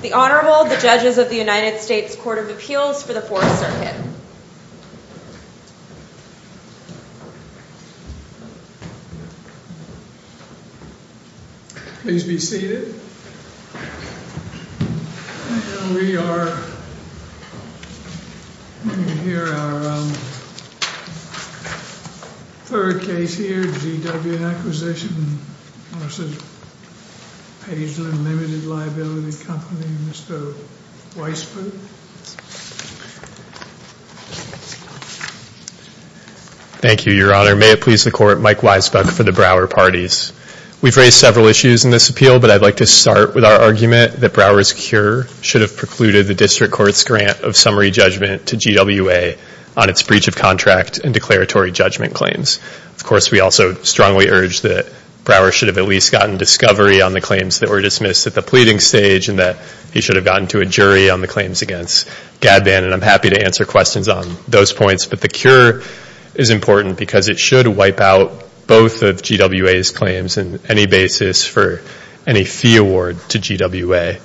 The Honorable, the Judges of the United States Court of Appeals for the Fourth Circuit. Please be seated. We are going to hear our third case here, GW Acquisition v. Pageland Limited Liability Company, Mr. Weisbuck. Thank you, Your Honor. May it please the Court, Mike Weisbuck for the Brouwer Parties. We've raised several issues in this appeal, but I'd like to start with our argument that Brouwer's cure should have precluded the District Court's grant of summary judgment to GWA on its breach of contract and declaratory judgment claims. Of course, we also strongly urge that Brouwer should have at least gotten discovery on the claims that were dismissed at the pleading stage and that he should have gotten to a jury on the claims against GADBAN, and I'm happy to answer questions on those points. But the cure is important because it should wipe out both of GWA's claims on any basis for any fee award to GWA.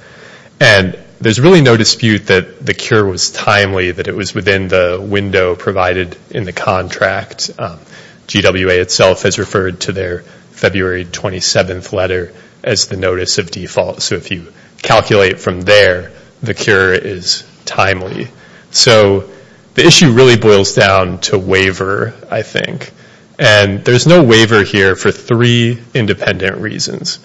And there's really no dispute that the cure was timely, that it was within the window provided in the contract. GWA itself has referred to their February 27th letter as the notice of default, so if you calculate from there, the cure is timely. So the issue really boils down to waiver, I think, and there's no waiver here for three independent reasons.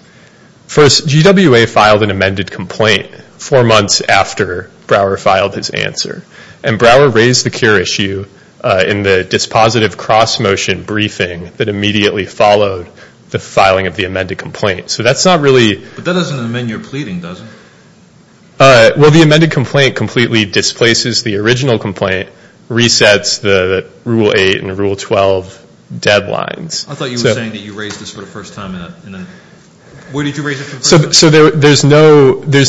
First, GWA filed an amended complaint four months after Brouwer filed his answer, and Brouwer raised the cure issue in the dispositive cross-motion briefing that immediately followed the filing of the amended complaint. So that's not really... But that doesn't amend your pleading, does it? Well, the amended complaint completely displaces the original complaint, resets the Rule 8 and Rule 12 deadlines. I thought you were saying that you raised this for the first time in a... Where did you raise it for the first time? So there's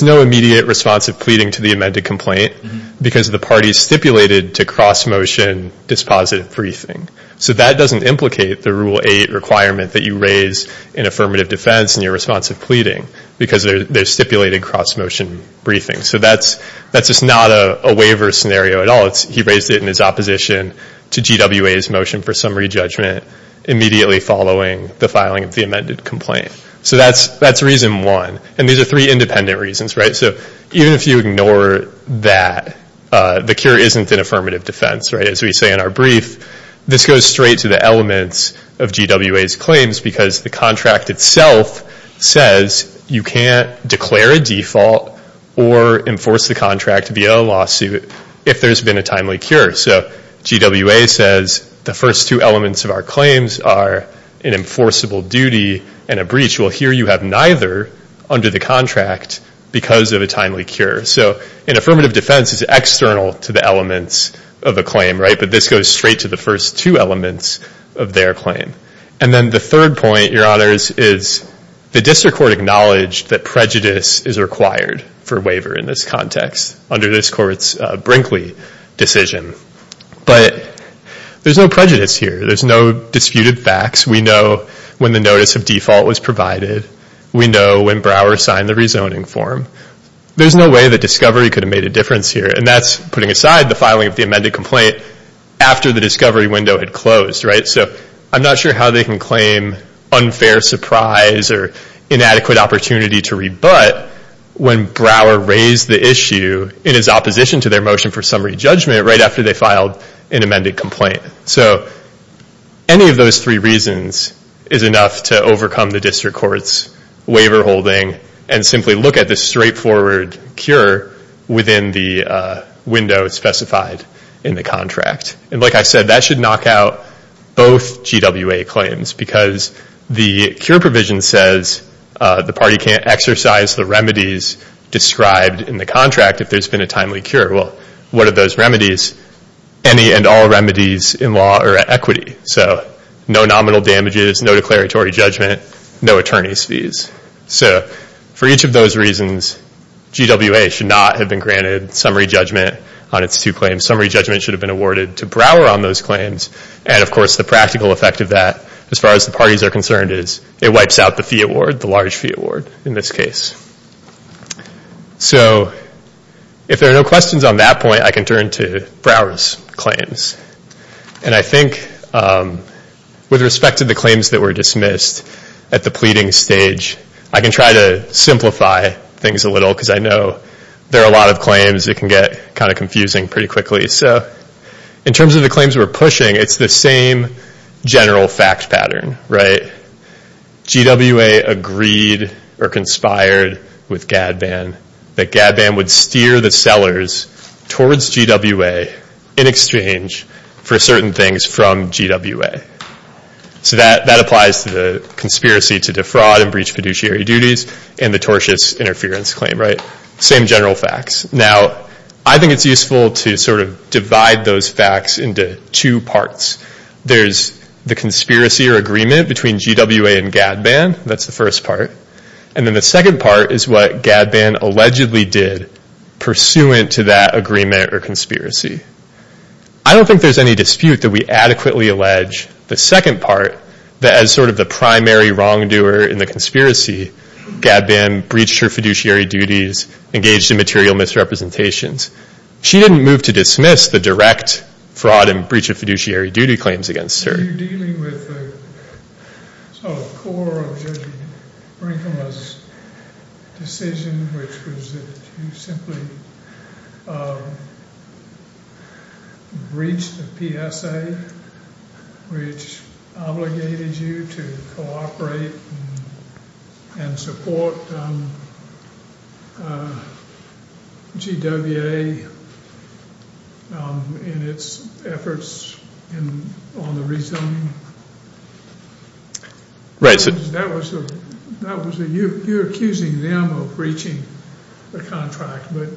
no immediate responsive pleading to the amended complaint because the parties stipulated to cross-motion dispositive briefing. So that doesn't implicate the Rule 8 requirement that you raise in affirmative defense in your responsive pleading because they're stipulated cross-motion briefing. So that's just not a waiver scenario at all. He raised it in his opposition to GWA's motion for summary judgment immediately following the filing of the amended complaint. So that's reason one. And these are three independent reasons, right? So even if you ignore that, the cure isn't in affirmative defense, right? As we say in our brief, this goes straight to the elements of GWA's claims because the contract itself says you can't declare a default or enforce the contract via lawsuit if there's been a timely cure. So GWA says the first two elements of our claims are an enforceable duty and a breach. Well, here you have neither under the contract because of a timely cure. So in affirmative defense, it's external to the elements of a claim, right? But this goes straight to the first two elements of their claim. And then the third point, Your Honors, is the district court acknowledged that prejudice is required for a waiver in this context under this court's Brinkley decision. But there's no prejudice here. There's no disputed facts. We know when the notice of default was provided. We know when Brower signed the rezoning form. There's no way that discovery could have made a difference here. And that's putting aside the filing of the amended complaint after the discovery window had closed, right? So I'm not sure how they can claim unfair surprise or inadequate opportunity to rebut when Brower raised the issue in his opposition to their motion for summary judgment right after they filed an amended complaint. So any of those three reasons is enough to overcome the district court's waiver holding and simply look at the straightforward cure within the window specified in the contract. And like I said, that should knock out both GWA claims because the cure provision says the party can't exercise the remedies described in the contract if there's been a timely cure. Well, what are those remedies? Any and all remedies in law are equity. So no nominal damages, no declaratory judgment, no attorney's fees. So for each of those reasons, GWA should not have been granted summary judgment on its two claims. Summary judgment should have been awarded to Brower on those claims. And of course, the practical effect of that, as far as the parties are concerned, is it wipes out the fee award, the large fee award in this case. So if there are no questions on that point, I can turn to Brower's claims. And I think with respect to the claims that were dismissed at the pleading stage, I can try to simplify things a little because I know there are a lot of claims that can get kind of confusing pretty quickly. So in terms of the claims we're pushing, it's the same general fact pattern, right? GWA agreed or conspired with GADBAN that GADBAN would steer the sellers towards GWA in exchange for certain things from GWA. So that applies to the conspiracy to defraud and breach fiduciary duties and the tortious interference claim, right? Same general facts. Now, I think it's useful to sort of divide those facts into two parts. There's the conspiracy or agreement between GWA and GADBAN. That's the first part. And then the second part is what GADBAN allegedly did pursuant to that agreement or conspiracy. I don't think there's any dispute that we adequately allege the second part that as sort of the primary wrongdoer in the conspiracy, GADBAN breached her fiduciary duties, engaged in material misrepresentations. She didn't move to dismiss the direct fraud and breach of fiduciary duty claims against her. You're dealing with the sort of core of Judge Brinkema's decision, which was that you simply breached the PSA, which obligated you to cooperate and support GWA in its efforts on the rezoning. Right. You're accusing them of breaching the contract, but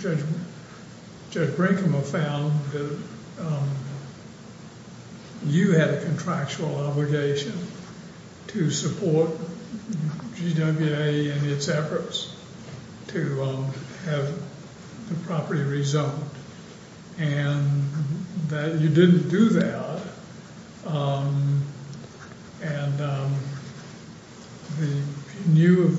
Judge Brinkema found that you had a contractual obligation to support GWA in its efforts to have the property rezoned. And that you didn't do that, and he knew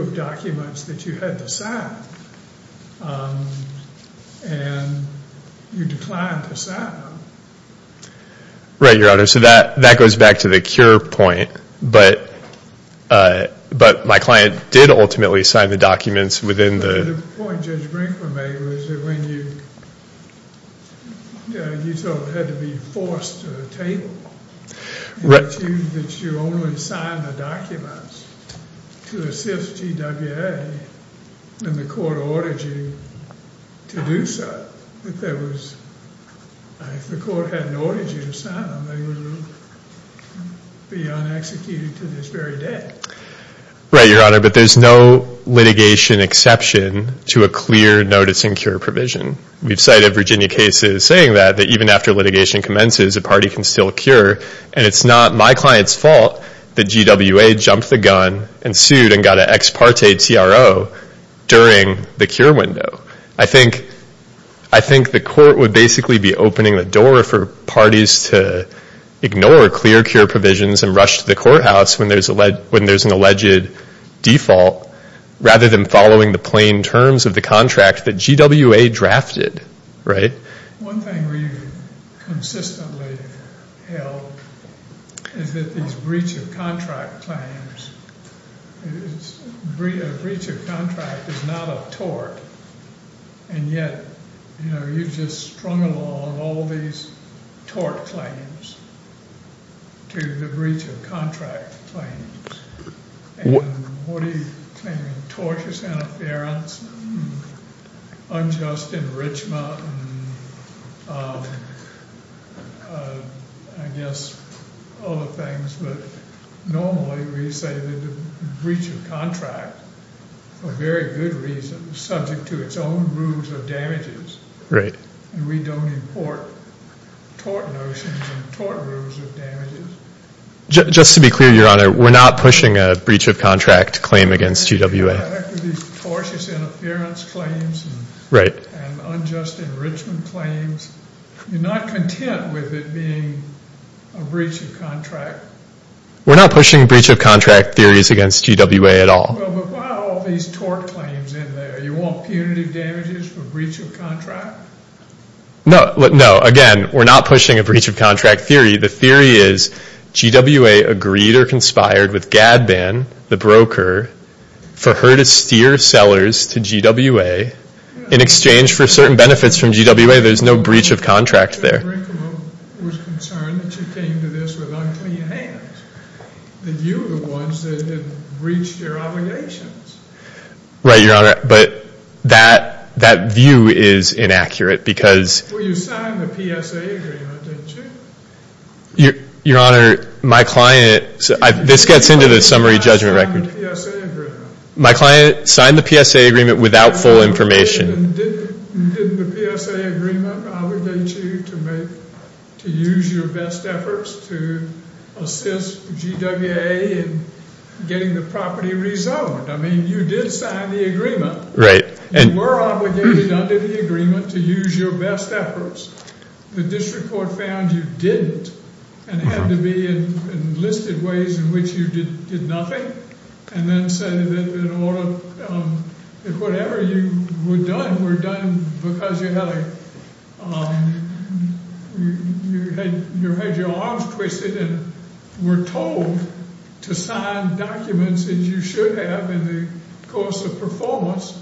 of documents that you had to sign, and you declined to sign them. Right, Your Honor. So that goes back to the cure point, but my client did ultimately sign the documents within the... The point Judge Brinkema made was that when you had to be forced to table, that you only signed the documents to assist GWA, and the court ordered you to do so. If the court hadn't ordered you to sign them, they would be unexecuted to this very day. Right, Your Honor, but there's no litigation exception to a clear notice and cure provision. We've cited Virginia cases saying that, that even after litigation commences, a party can still cure. And it's not my client's fault that GWA jumped the gun and sued and got an ex parte TRO during the cure window. I think the court would basically be opening the door for parties to ignore clear cure provisions and rush to the courthouse when there's an alleged default, rather than following the plain terms of the contract that GWA drafted. One thing we've consistently held is that these breach of contract claims... A breach of contract is not a tort, and yet you've just strung along all these tort claims to the breach of contract claims. And what are you claiming, tortious interference, unjust enrichment, and I guess other things, but normally we say that a breach of contract, for very good reasons, is subject to its own rules of damages. Right. And we don't import tort notions and tort rules of damages. Just to be clear, Your Honor, we're not pushing a breach of contract claim against GWA. After these tortious interference claims and unjust enrichment claims, you're not content with it being a breach of contract? We're not pushing breach of contract theories against GWA at all. But why all these tort claims in there? You want punitive damages for breach of contract? No, again, we're not pushing a breach of contract theory. The theory is GWA agreed or conspired with GADBAN, the broker, for her to steer sellers to GWA, in exchange for certain benefits from GWA. There's no breach of contract there. So Brinkman was concerned that you came to this with unclean hands, that you were the ones that had breached your obligations. Right, Your Honor, but that view is inaccurate because... Well, you signed the PSA agreement, didn't you? Your Honor, my client... This gets into the summary judgment record. My client signed the PSA agreement without full information. Didn't the PSA agreement obligate you to use your best efforts to assist GWA in getting the property rezoned? I mean, you did sign the agreement. Right. You were obligated under the agreement to use your best efforts. The district court found you didn't and had to be enlisted ways in which you did nothing and then said that whatever you were done were done because you had your arms twisted and were told to sign documents that you should have in the course of performance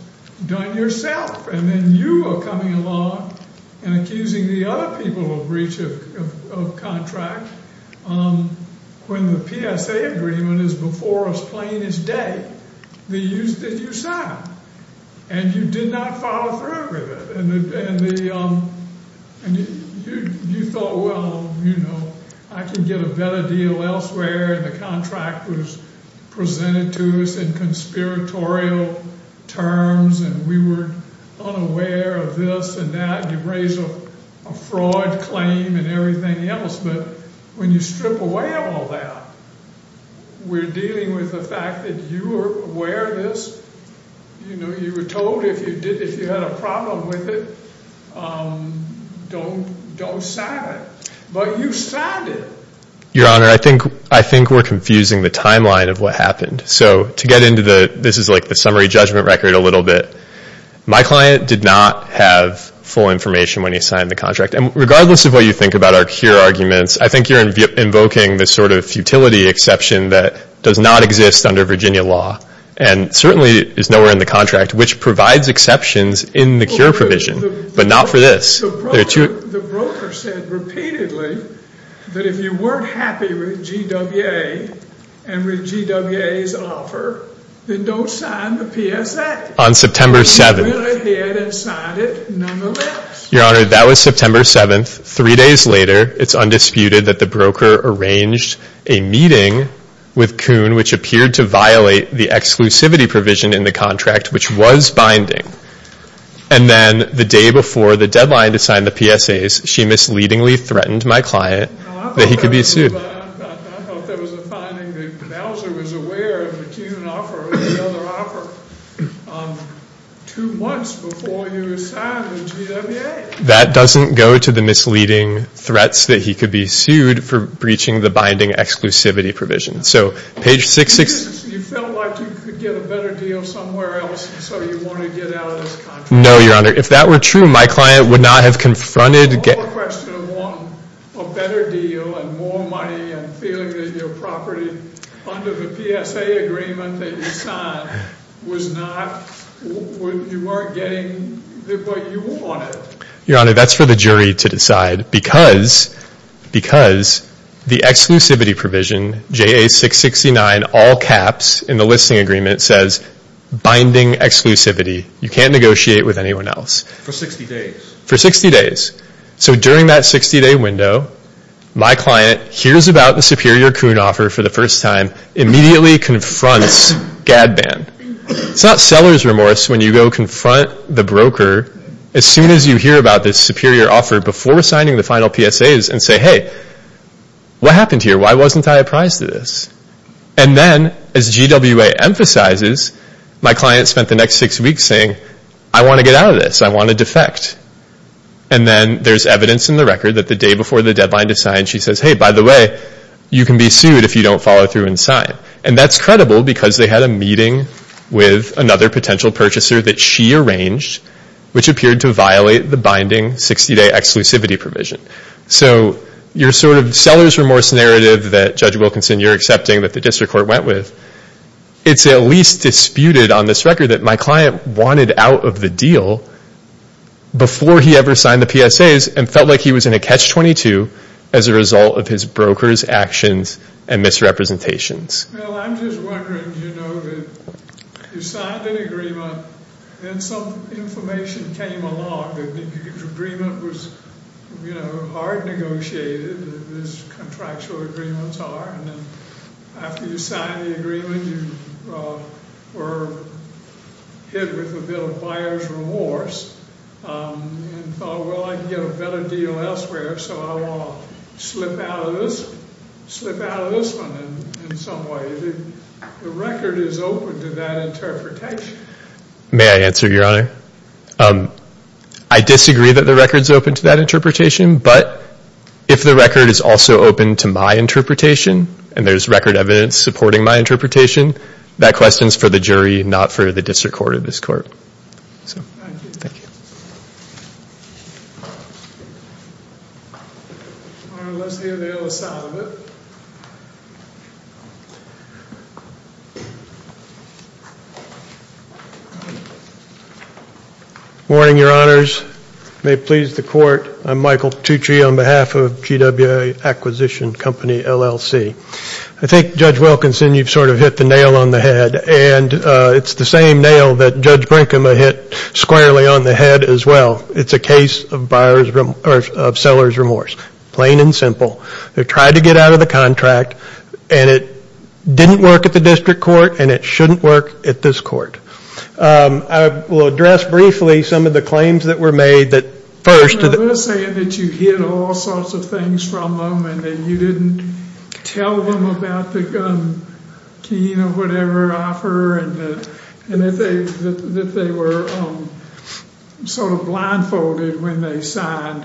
done yourself. And then you were coming along and accusing the other people of breach of contract when the PSA agreement is before us plain as day that you signed. And you did not follow through with it. And you thought, well, you know, I can get a better deal elsewhere, and the contract was presented to us in conspiratorial terms, and we were unaware of this and that, and you raised a fraud claim and everything else. But when you strip away all that, we're dealing with the fact that you were aware of this. You know, you were told if you had a problem with it, don't sign it. But you signed it. Your Honor, I think we're confusing the timeline of what happened. So to get into the – this is like the summary judgment record a little bit. My client did not have full information when he signed the contract. And regardless of what you think about our here arguments, I think you're invoking this sort of futility exception that does not exist under Virginia law. And certainly is nowhere in the contract, which provides exceptions in the CURE provision. But not for this. The broker said repeatedly that if you weren't happy with GWA and with GWA's offer, then don't sign the PSA. On September 7th. And he went ahead and signed it, none the less. Your Honor, that was September 7th. Three days later, it's undisputed that the broker arranged a meeting with Kuhn, which appeared to violate the exclusivity provision in the contract, which was binding. And then the day before the deadline to sign the PSAs, she misleadingly threatened my client that he could be sued. I thought there was a finding that Kuhn was aware of the Kuhn offer and the other offer. Two months before you signed the GWA. That doesn't go to the misleading threats that he could be sued for breaching the binding exclusivity provision. You felt like you could get a better deal somewhere else, so you wanted to get out of this contract. No, Your Honor. If that were true, my client would not have confronted. One more question. One, a better deal and more money and feeling that your property under the PSA agreement that you signed was not, you weren't getting what you wanted. Your Honor, that's for the jury to decide. Because the exclusivity provision, JA-669, all caps in the listing agreement says binding exclusivity. You can't negotiate with anyone else. For 60 days. For 60 days. So during that 60-day window, my client hears about the superior Kuhn offer for the first time, immediately confronts GADBAN. It's not seller's remorse when you go confront the broker. As soon as you hear about this superior offer before signing the final PSAs and say, hey, what happened here? Why wasn't I apprised of this? And then, as GWA emphasizes, my client spent the next six weeks saying, I want to get out of this. I want to defect. And then there's evidence in the record that the day before the deadline to sign, she says, hey, by the way, you can be sued if you don't follow through and sign. And that's credible because they had a meeting with another potential purchaser that she arranged which appeared to violate the binding 60-day exclusivity provision. So your sort of seller's remorse narrative that, Judge Wilkinson, you're accepting that the district court went with, it's at least disputed on this record that my client wanted out of the deal before he ever signed the PSAs and felt like he was in a catch-22 as a result of his broker's actions and misrepresentations. Well, I'm just wondering, you know, that you signed an agreement and some information came along that the agreement was, you know, hard negotiated as contractual agreements are. And then after you signed the agreement, you were hit with a bit of buyer's remorse and thought, well, I can get a better deal elsewhere, so I won't slip out of this one in some way. The record is open to that interpretation. May I answer, Your Honor? I disagree that the record's open to that interpretation, but if the record is also open to my interpretation and there's record evidence supporting my interpretation, that question's for the jury, not for the district court of this court. Thank you. All right, let's hear the other side of it. Morning, Your Honors. May it please the Court. I'm Michael Tucci on behalf of GWA Acquisition Company, LLC. I think, Judge Wilkinson, you've sort of hit the nail on the head, and it's the same nail that Judge Brinkham hit squarely on the head as well. It's a case of seller's remorse, plain and simple. They tried to get out of the contract, and it didn't work at the district court, and it shouldn't work at this court. I will address briefly some of the claims that were made that first. They're saying that you hid all sorts of things from them and that you didn't tell them about the gun keying or whatever offer and that they were sort of blindfolded when they signed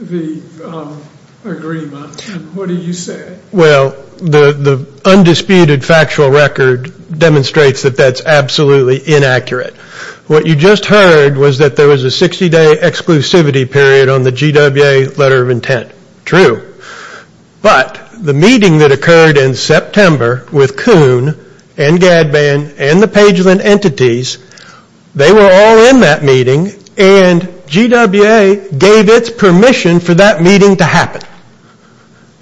the agreement. What do you say? Well, the undisputed factual record demonstrates that that's absolutely inaccurate. What you just heard was that there was a 60-day exclusivity period on the GWA letter of intent. True. But the meeting that occurred in September with Kuhn and Gadban and the Pageland entities, they were all in that meeting, and GWA gave its permission for that meeting to happen.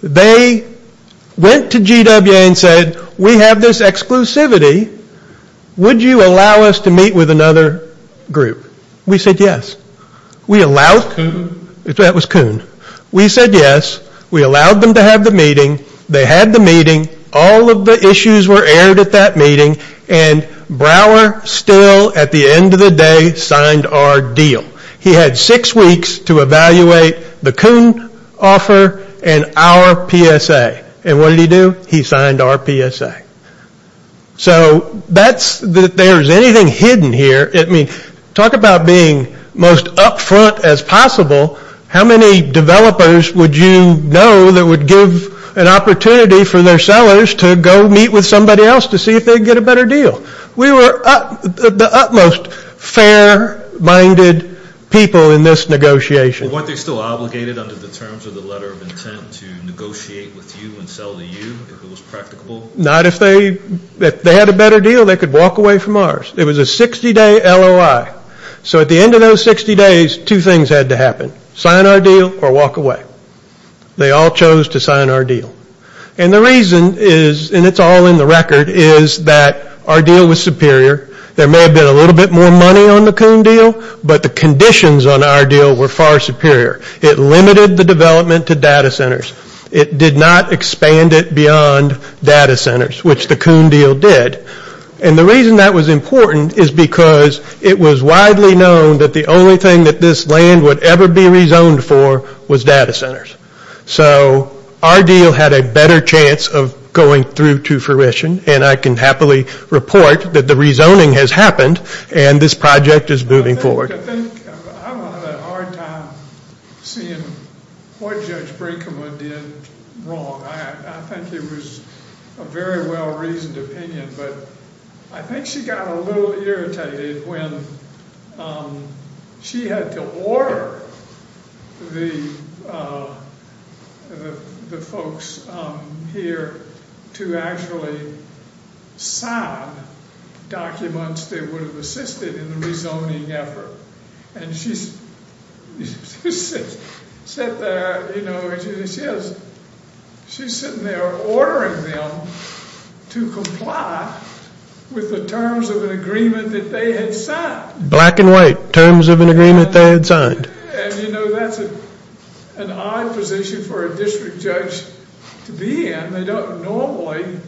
They went to GWA and said, we have this exclusivity. Would you allow us to meet with another group? We said yes. Was it Kuhn? That was Kuhn. We said yes. We allowed them to have the meeting. They had the meeting. All of the issues were aired at that meeting, and Brower still, at the end of the day, signed our deal. He had six weeks to evaluate the Kuhn offer and our PSA, and what did he do? He signed our PSA. So that's that there's anything hidden here. I mean, talk about being most upfront as possible. How many developers would you know that would give an opportunity for their sellers to go meet with somebody else to see if they'd get a better deal? We were the utmost fair-minded people in this negotiation. Well, weren't they still obligated under the terms of the letter of intent to negotiate with you and sell to you if it was practicable? Not if they had a better deal. They could walk away from ours. It was a 60-day LOI. So at the end of those 60 days, two things had to happen, sign our deal or walk away. They all chose to sign our deal, and the reason is, and it's all in the record, is that our deal was superior. There may have been a little bit more money on the Kuhn deal, but the conditions on our deal were far superior. It limited the development to data centers. It did not expand it beyond data centers, which the Kuhn deal did. And the reason that was important is because it was widely known that the only thing that this land would ever be rezoned for was data centers. So our deal had a better chance of going through to fruition, and I can happily report that the rezoning has happened and this project is moving forward. I don't have a hard time seeing what Judge Brinkman did wrong. I think it was a very well-reasoned opinion, but I think she got a little irritated when she had to order the folks here to actually sign documents that would have assisted in the rezoning effort, and she's sitting there ordering them to comply with the terms of an agreement that they had signed. Black and white. Terms of an agreement they had signed. And, you know, that's an odd position for a district judge to be in. They don't normally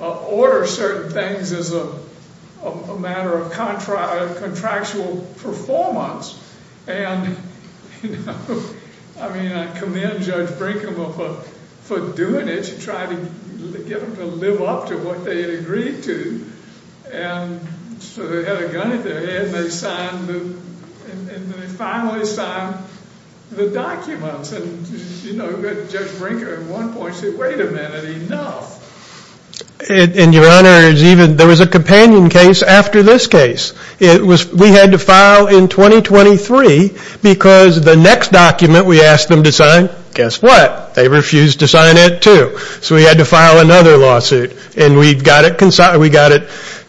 order certain things as a matter of contractual performance. And, you know, I mean, I commend Judge Brinkman for doing it. She tried to get them to live up to what they had agreed to. And so they had a gun to their head and they finally signed the documents. And, you know, Judge Brinkman at one point said, wait a minute, enough. And, Your Honor, there was a companion case after this case. We had to file in 2023 because the next document we asked them to sign, guess what? They refused to sign it, too. So we had to file another lawsuit. And we got it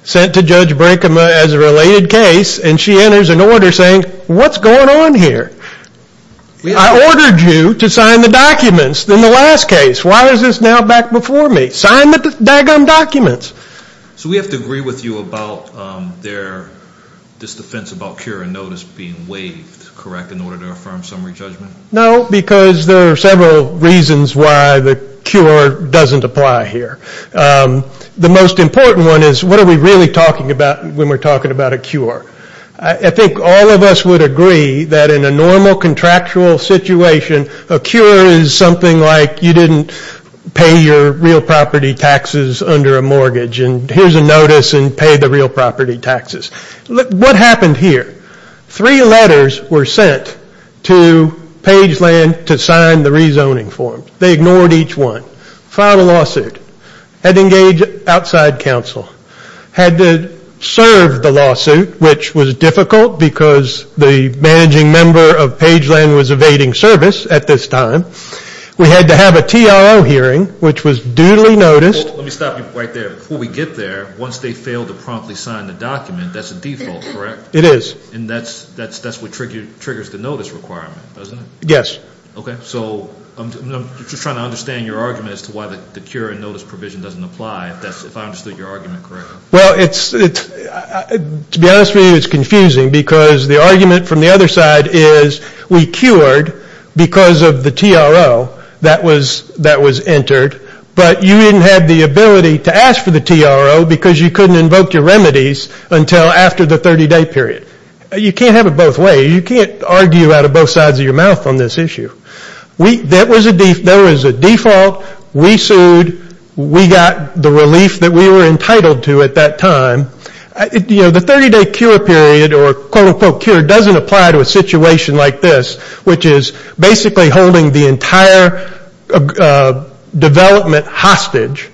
sent to Judge Brinkman as a related case, and she enters an order saying, what's going on here? I ordered you to sign the documents in the last case. Why is this now back before me? Sign the doggone documents. So we have to agree with you about this defense about cure and notice being waived, correct, in order to affirm summary judgment? No, because there are several reasons why the cure doesn't apply here. The most important one is what are we really talking about when we're talking about a cure? I think all of us would agree that in a normal contractual situation, a cure is something like you didn't pay your real property taxes under a mortgage, and here's a notice and pay the real property taxes. What happened here? Three letters were sent to Pageland to sign the rezoning form. They ignored each one. Filed a lawsuit. Had to engage outside counsel. Had to serve the lawsuit, which was difficult because the managing member of Pageland was evading service at this time. We had to have a TRO hearing, which was duly noticed. Let me stop you right there. Before we get there, once they fail to promptly sign the document, that's a default, correct? It is. And that's what triggers the notice requirement, doesn't it? Yes. Okay. So I'm just trying to understand your argument as to why the cure and notice provision doesn't apply, if I understood your argument correctly. Well, to be honest with you, it's confusing because the argument from the other side is we cured because of the TRO that was entered, but you didn't have the ability to ask for the TRO because you couldn't invoke your remedies until after the 30-day period. You can't have it both ways. You can't argue out of both sides of your mouth on this issue. That was a default. We sued. We got the relief that we were entitled to at that time. You know, the 30-day cure period, or quote, unquote, cure, doesn't apply to a situation like this, which is basically holding the entire development hostage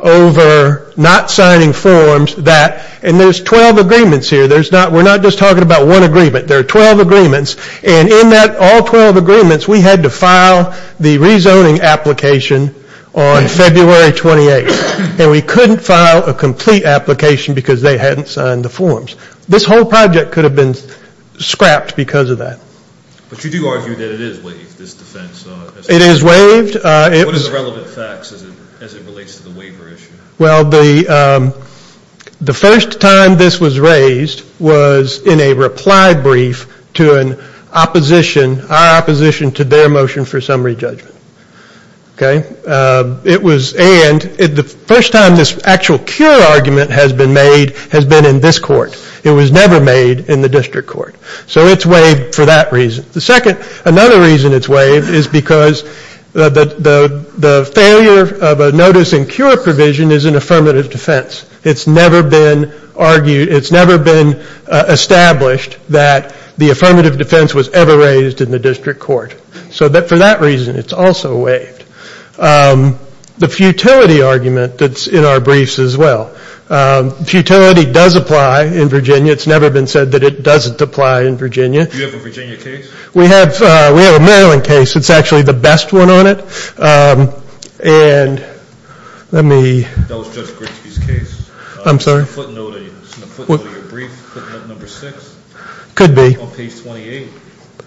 over not signing forms that, and there's 12 agreements here. We're not just talking about one agreement. There are 12 agreements. And in all 12 agreements, we had to file the rezoning application on February 28th. And we couldn't file a complete application because they hadn't signed the forms. This whole project could have been scrapped because of that. But you do argue that it is waived, this defense. It is waived. What is the relevant facts as it relates to the waiver issue? Well, the first time this was raised was in a reply brief to an opposition, our opposition to their motion for summary judgment. Okay? It was, and the first time this actual cure argument has been made has been in this court. It was never made in the district court. So it's waived for that reason. The second, another reason it's waived is because the failure of a notice and cure provision is an affirmative defense. It's never been argued, it's never been established that the affirmative defense was ever raised in the district court. So for that reason, it's also waived. The futility argument that's in our briefs as well, futility does apply in Virginia. It's never been said that it doesn't apply in Virginia. Do you have a Virginia case? We have a Maryland case. It's actually the best one on it. And let me. That was Judge Gritsky's case. I'm sorry? It's in the footnote of your brief, footnote number six. Could be. On page 28.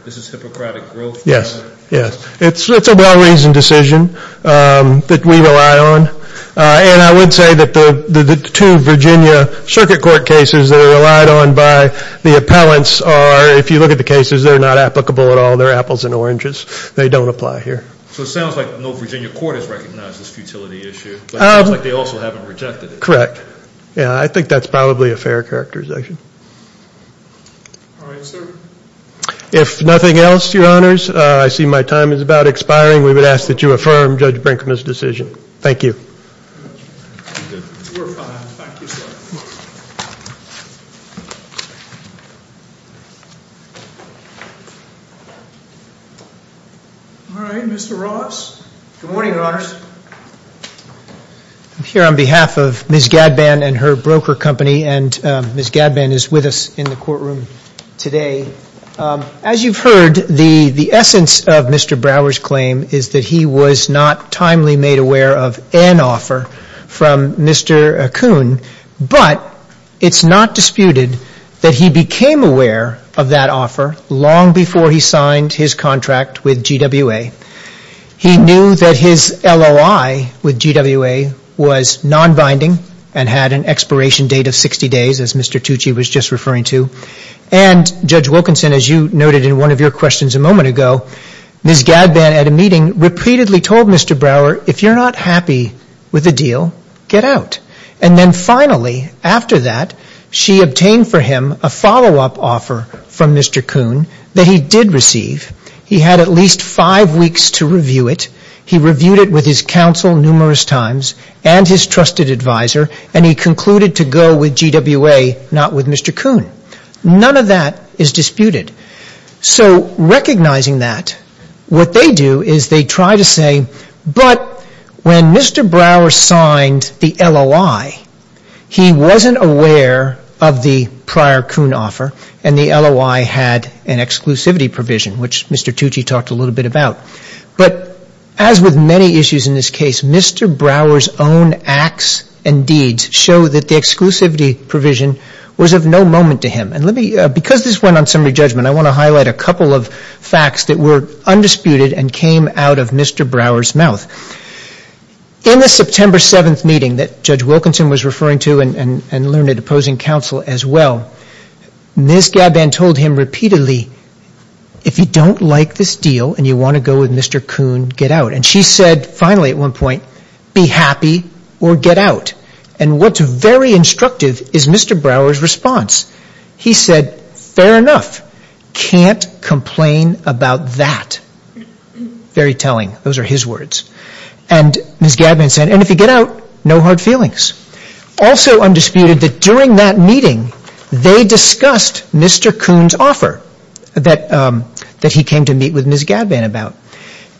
This is Hippocratic Growth. Yes, yes. It's a well-reasoned decision that we rely on. And I would say that the two Virginia circuit court cases that are relied on by the appellants are, if you look at the cases, they're not applicable at all. They're apples and oranges. They don't apply here. So it sounds like no Virginia court has recognized this futility issue. But it sounds like they also haven't rejected it. Correct. Yeah, I think that's probably a fair characterization. All right, sir. If nothing else, Your Honors, I see my time is about expiring. We would ask that you affirm Judge Brinkman's decision. Thank you. All right, Mr. Ross. Good morning, Your Honors. I'm here on behalf of Ms. Gadban and her broker company. And Ms. Gadban is with us in the courtroom today. As you've heard, the essence of Mr. Brower's claim is that he was not timely made aware of an offer from Mr. Kuhn. But it's not disputed that he became aware of that offer long before he signed his contract with GWA. He knew that his LOI with GWA was non-binding and had an expiration date of 60 days, as Mr. Tucci was just referring to. And Judge Wilkinson, as you noted in one of your questions a moment ago, Ms. Gadban at a meeting repeatedly told Mr. Brower, if you're not happy with the deal, get out. And then finally, after that, she obtained for him a follow-up offer from Mr. Kuhn that he did receive. He had at least five weeks to review it. He reviewed it with his counsel numerous times and his trusted advisor. And he concluded to go with GWA, not with Mr. Kuhn. None of that is disputed. So recognizing that, what they do is they try to say, but when Mr. Brower signed the LOI, he wasn't aware of the prior Kuhn offer and the LOI had an exclusivity provision, which Mr. Tucci talked a little bit about. But as with many issues in this case, Mr. Brower's own acts and deeds show that the exclusivity provision was of no moment to him. And let me, because this went on summary judgment, I want to highlight a couple of facts that were undisputed and came out of Mr. Brower's mouth. In the September 7th meeting that Judge Wilkinson was referring to and learned it opposing counsel as well, Ms. Gabin told him repeatedly, if you don't like this deal and you want to go with Mr. Kuhn, get out. And she said finally at one point, be happy or get out. And what's very instructive is Mr. Brower's response. He said, fair enough, can't complain about that. Very telling, those are his words. And Ms. Gabin said, and if you get out, no hard feelings. Also undisputed that during that meeting they discussed Mr. Kuhn's offer that he came to meet with Ms. Gabin about.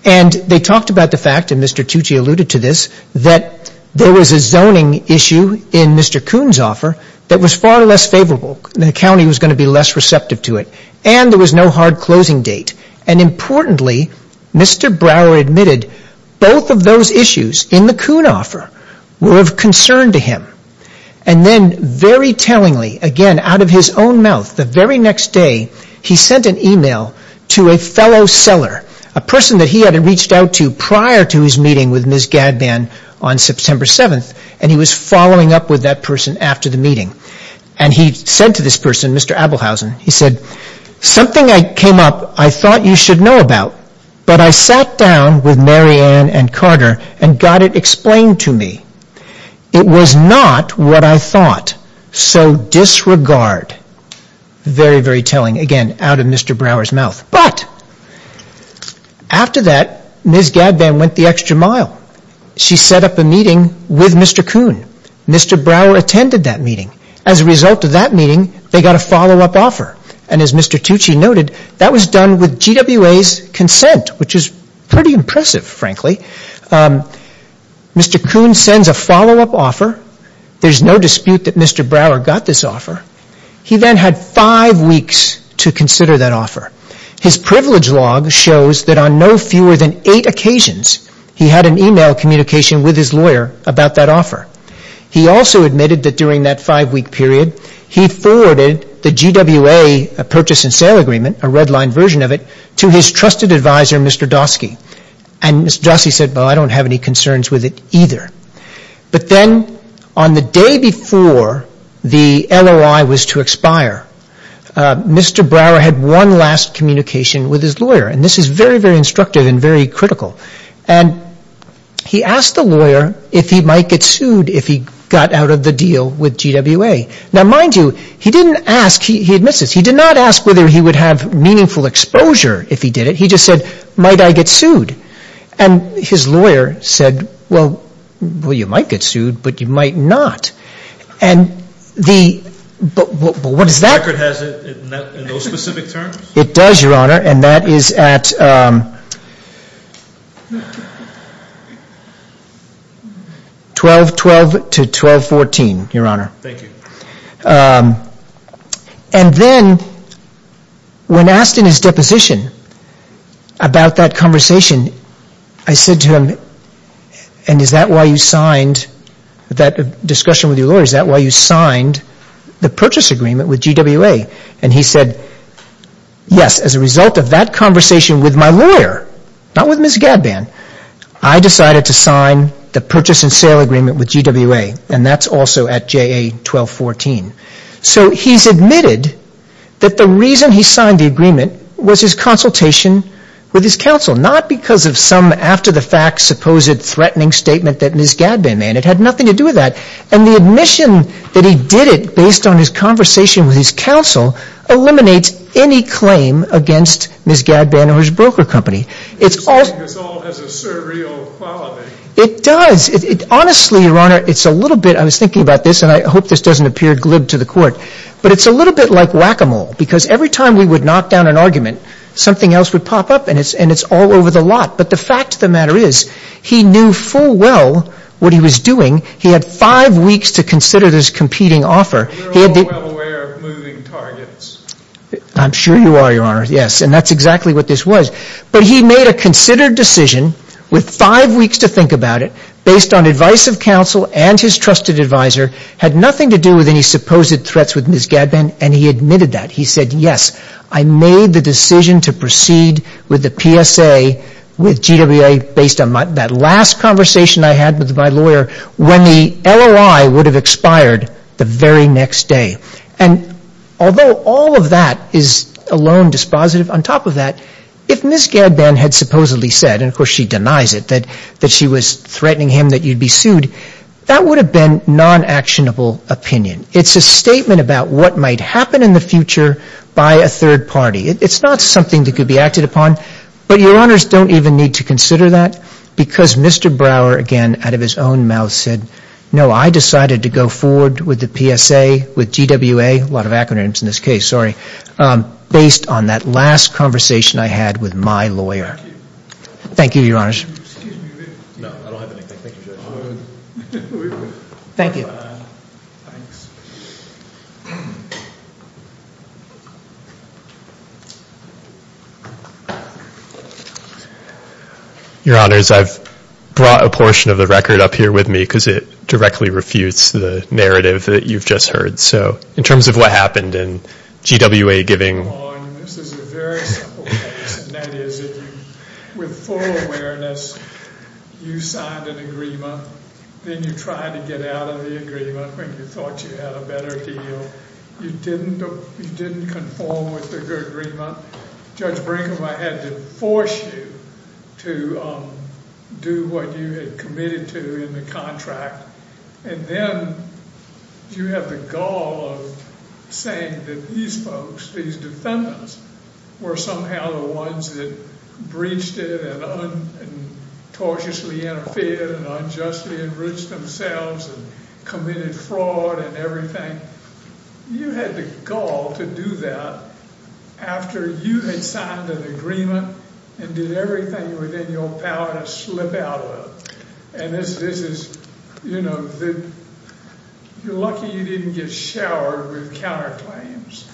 And they talked about the fact, and Mr. Tucci alluded to this, that there was a zoning issue in Mr. Kuhn's offer that was far less favorable. The county was going to be less receptive to it. And there was no hard closing date. And importantly, Mr. Brower admitted both of those issues in the Kuhn offer were of concern to him. And then very tellingly, again out of his own mouth, the very next day he sent an email to a fellow seller, a person that he had reached out to prior to his meeting with Ms. Gabin on September 7th. And he was following up with that person after the meeting. And he said to this person, Mr. Abelhausen, he said, something I came up, I thought you should know about. But I sat down with Mary Ann and Carter and got it explained to me. It was not what I thought. So disregard. Very, very telling. Again, out of Mr. Brower's mouth. But after that, Ms. Gabin went the extra mile. She set up a meeting with Mr. Kuhn. Mr. Brower attended that meeting. As a result of that meeting, they got a follow-up offer. And as Mr. Tucci noted, that was done with GWA's consent, which is pretty impressive, frankly. Mr. Kuhn sends a follow-up offer. There's no dispute that Mr. Brower got this offer. He then had five weeks to consider that offer. His privilege log shows that on no fewer than eight occasions, he had an email communication with his lawyer about that offer. He also admitted that during that five-week period, he forwarded the GWA purchase and sale agreement, a red-line version of it, to his trusted advisor, Mr. Dosky. And Mr. Dosky said, well, I don't have any concerns with it either. But then on the day before the LOI was to expire, Mr. Brower had one last communication with his lawyer. And this is very, very instructive and very critical. And he asked the lawyer if he might get sued if he got out of the deal with GWA. Now, mind you, he didn't ask. He admits this. He did not ask whether he would have meaningful exposure if he did it. He just said, might I get sued? And his lawyer said, well, you might get sued, but you might not. And the – what does that – The record has it in those specific terms? It does, Your Honor. And that is at 12-12 to 12-14, Your Honor. Thank you. And then when asked in his deposition about that conversation, I said to him, and is that why you signed that discussion with your lawyer? Is that why you signed the purchase agreement with GWA? And he said, yes, as a result of that conversation with my lawyer, not with Ms. Gadban, I decided to sign the purchase and sale agreement with GWA. And that's also at JA 12-14. So he's admitted that the reason he signed the agreement was his consultation with his counsel, not because of some after-the-fact supposed threatening statement that Ms. Gadban made. It had nothing to do with that. And the admission that he did it based on his conversation with his counsel eliminates any claim against Ms. Gadban or his broker company. It's all – This all has a surreal quality. It does. Honestly, Your Honor, it's a little bit – I was thinking about this, and I hope this doesn't appear glib to the Court. But it's a little bit like whack-a-mole, because every time we would knock down an argument, something else would pop up, and it's all over the lot. But the fact of the matter is, he knew full well what he was doing. He had five weeks to consider this competing offer. We're all well aware of moving targets. I'm sure you are, Your Honor. Yes. And that's exactly what this was. But he made a considered decision with five weeks to think about it, based on advice of counsel and his trusted advisor, had nothing to do with any supposed threats with Ms. Gadban, and he admitted that. He said, yes, I made the decision to proceed with the PSA with GWA based on that last conversation I had with my lawyer, when the LOI would have expired the very next day. And although all of that is alone dispositive, on top of that, if Ms. Gadban had supposedly said – and of course she denies it – that she was threatening him that you'd be sued, that would have been non-actionable opinion. It's a statement about what might happen in the future by a third party. It's not something that could be acted upon. But Your Honors don't even need to consider that, because Mr. Brower, again, out of his own mouth said, no, I decided to go forward with the PSA with GWA – a lot of acronyms in this case, sorry – based on that last conversation I had with my lawyer. Thank you. Thank you, Your Honors. Thank you. Thanks. Your Honors, I've brought a portion of the record up here with me because it directly refutes the narrative that you've just heard. So in terms of what happened in GWA giving – This is a very simple case, and that is that with full awareness, you signed an agreement. Then you tried to get out of the agreement when you thought you had a better deal. You didn't conform with the agreement. Judge Brinkman had to force you to do what you had committed to in the contract. And then you have the gall of saying that these folks, these defendants, were somehow the ones that breached it and tortiously interfered and unjustly enriched themselves and committed fraud and everything. You had the gall to do that after you had signed an agreement and did everything within your power to slip out of it. And this is – you're lucky you didn't get showered with counterclaims.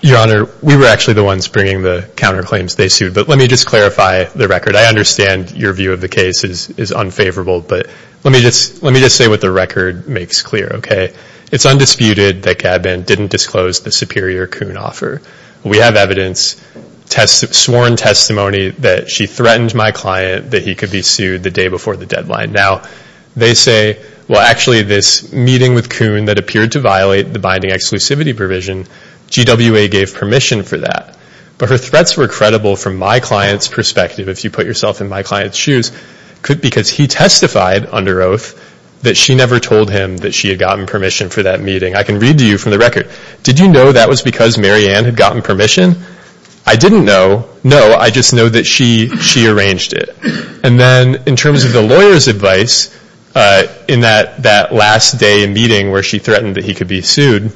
Your Honor, we were actually the ones bringing the counterclaims they sued. But let me just clarify the record. I understand your view of the case is unfavorable, but let me just say what the record makes clear, okay? It's undisputed that Gabin didn't disclose the superior Coon offer. We have evidence, sworn testimony, that she threatened my client that he could be sued the day before the deadline. Now, they say, well, actually, this meeting with Coon that appeared to violate the binding exclusivity provision, GWA gave permission for that. But her threats were credible from my client's perspective, if you put yourself in my client's shoes, because he testified under oath that she never told him that she had gotten permission for that meeting. I can read to you from the record, did you know that was because Mary Ann had gotten permission? I didn't know. No, I just know that she arranged it. And then in terms of the lawyer's advice in that last day meeting where she threatened that he could be sued,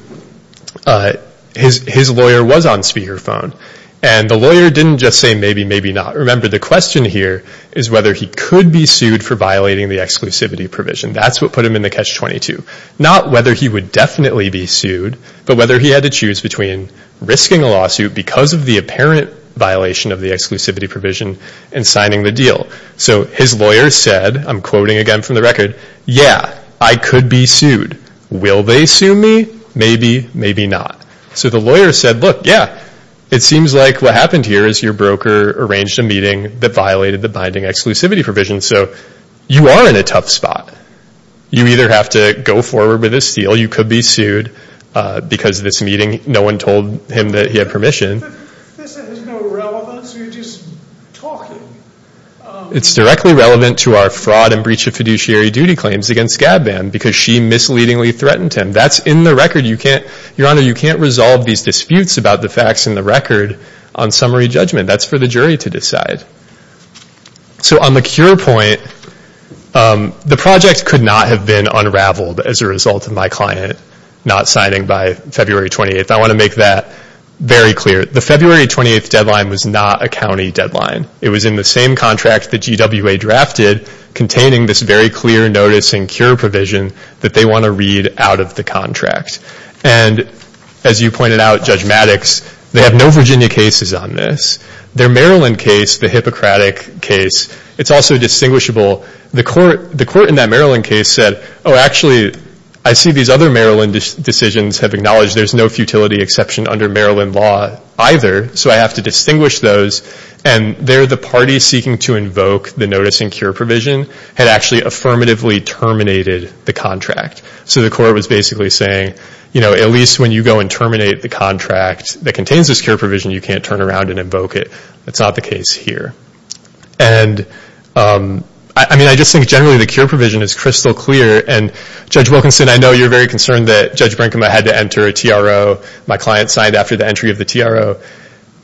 his lawyer was on speakerphone. And the lawyer didn't just say maybe, maybe not. Remember, the question here is whether he could be sued for violating the exclusivity provision. That's what put him in the Catch-22. Not whether he would definitely be sued, but whether he had to choose between risking a lawsuit because of the apparent violation of the exclusivity provision and signing the deal. So his lawyer said, I'm quoting again from the record, yeah, I could be sued. Will they sue me? Maybe, maybe not. So the lawyer said, look, yeah, it seems like what happened here is your broker arranged a meeting that violated the binding exclusivity provision, so you are in a tough spot. You either have to go forward with this deal, you could be sued because of this meeting, no one told him that he had permission. This has no relevance, we're just talking. It's directly relevant to our fraud and breach of fiduciary duty claims against Gabban because she misleadingly threatened him. That's in the record. Your Honor, you can't resolve these disputes about the facts in the record on summary judgment. That's for the jury to decide. So on the cure point, the project could not have been unraveled as a result of my client not signing by February 28th. I want to make that very clear. The February 28th deadline was not a county deadline. It was in the same contract that GWA drafted containing this very clear notice and cure provision that they want to read out of the contract. And as you pointed out, Judge Maddox, they have no Virginia cases on this. Their Maryland case, the Hippocratic case, it's also distinguishable. The court in that Maryland case said, oh, actually, I see these other Maryland decisions have acknowledged there's no futility exception under Maryland law either, so I have to distinguish those. And there, the party seeking to invoke the notice and cure provision had actually affirmatively terminated the contract. So the court was basically saying, you know, at least when you go and terminate the contract that contains this cure provision, you can't turn around and invoke it. That's not the case here. And, I mean, I just think generally the cure provision is crystal clear, and Judge Wilkinson, I know you're very concerned that Judge Brinkema had to enter a TRO. My client signed after the entry of the TRO.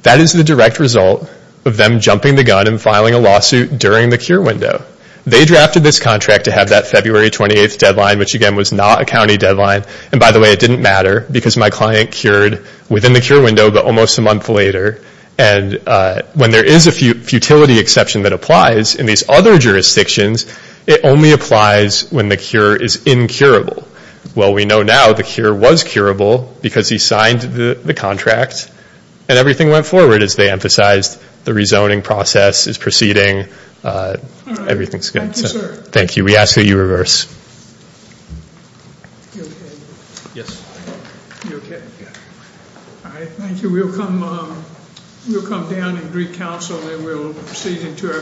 That is the direct result of them jumping the gun and filing a lawsuit during the cure window. They drafted this contract to have that February 28th deadline, which, again, was not a county deadline. And, by the way, it didn't matter because my client cured within the cure window but almost a month later. And when there is a futility exception that applies in these other jurisdictions, it only applies when the cure is incurable. Well, we know now the cure was curable because he signed the contract, and everything went forward as they emphasized. The rezoning process is proceeding. Everything's good. Thank you, sir. Thank you. We ask that you reverse. You okay? Yes. You okay? Yeah. All right, thank you. We'll come down and greet counsel, and we'll proceed into our final case.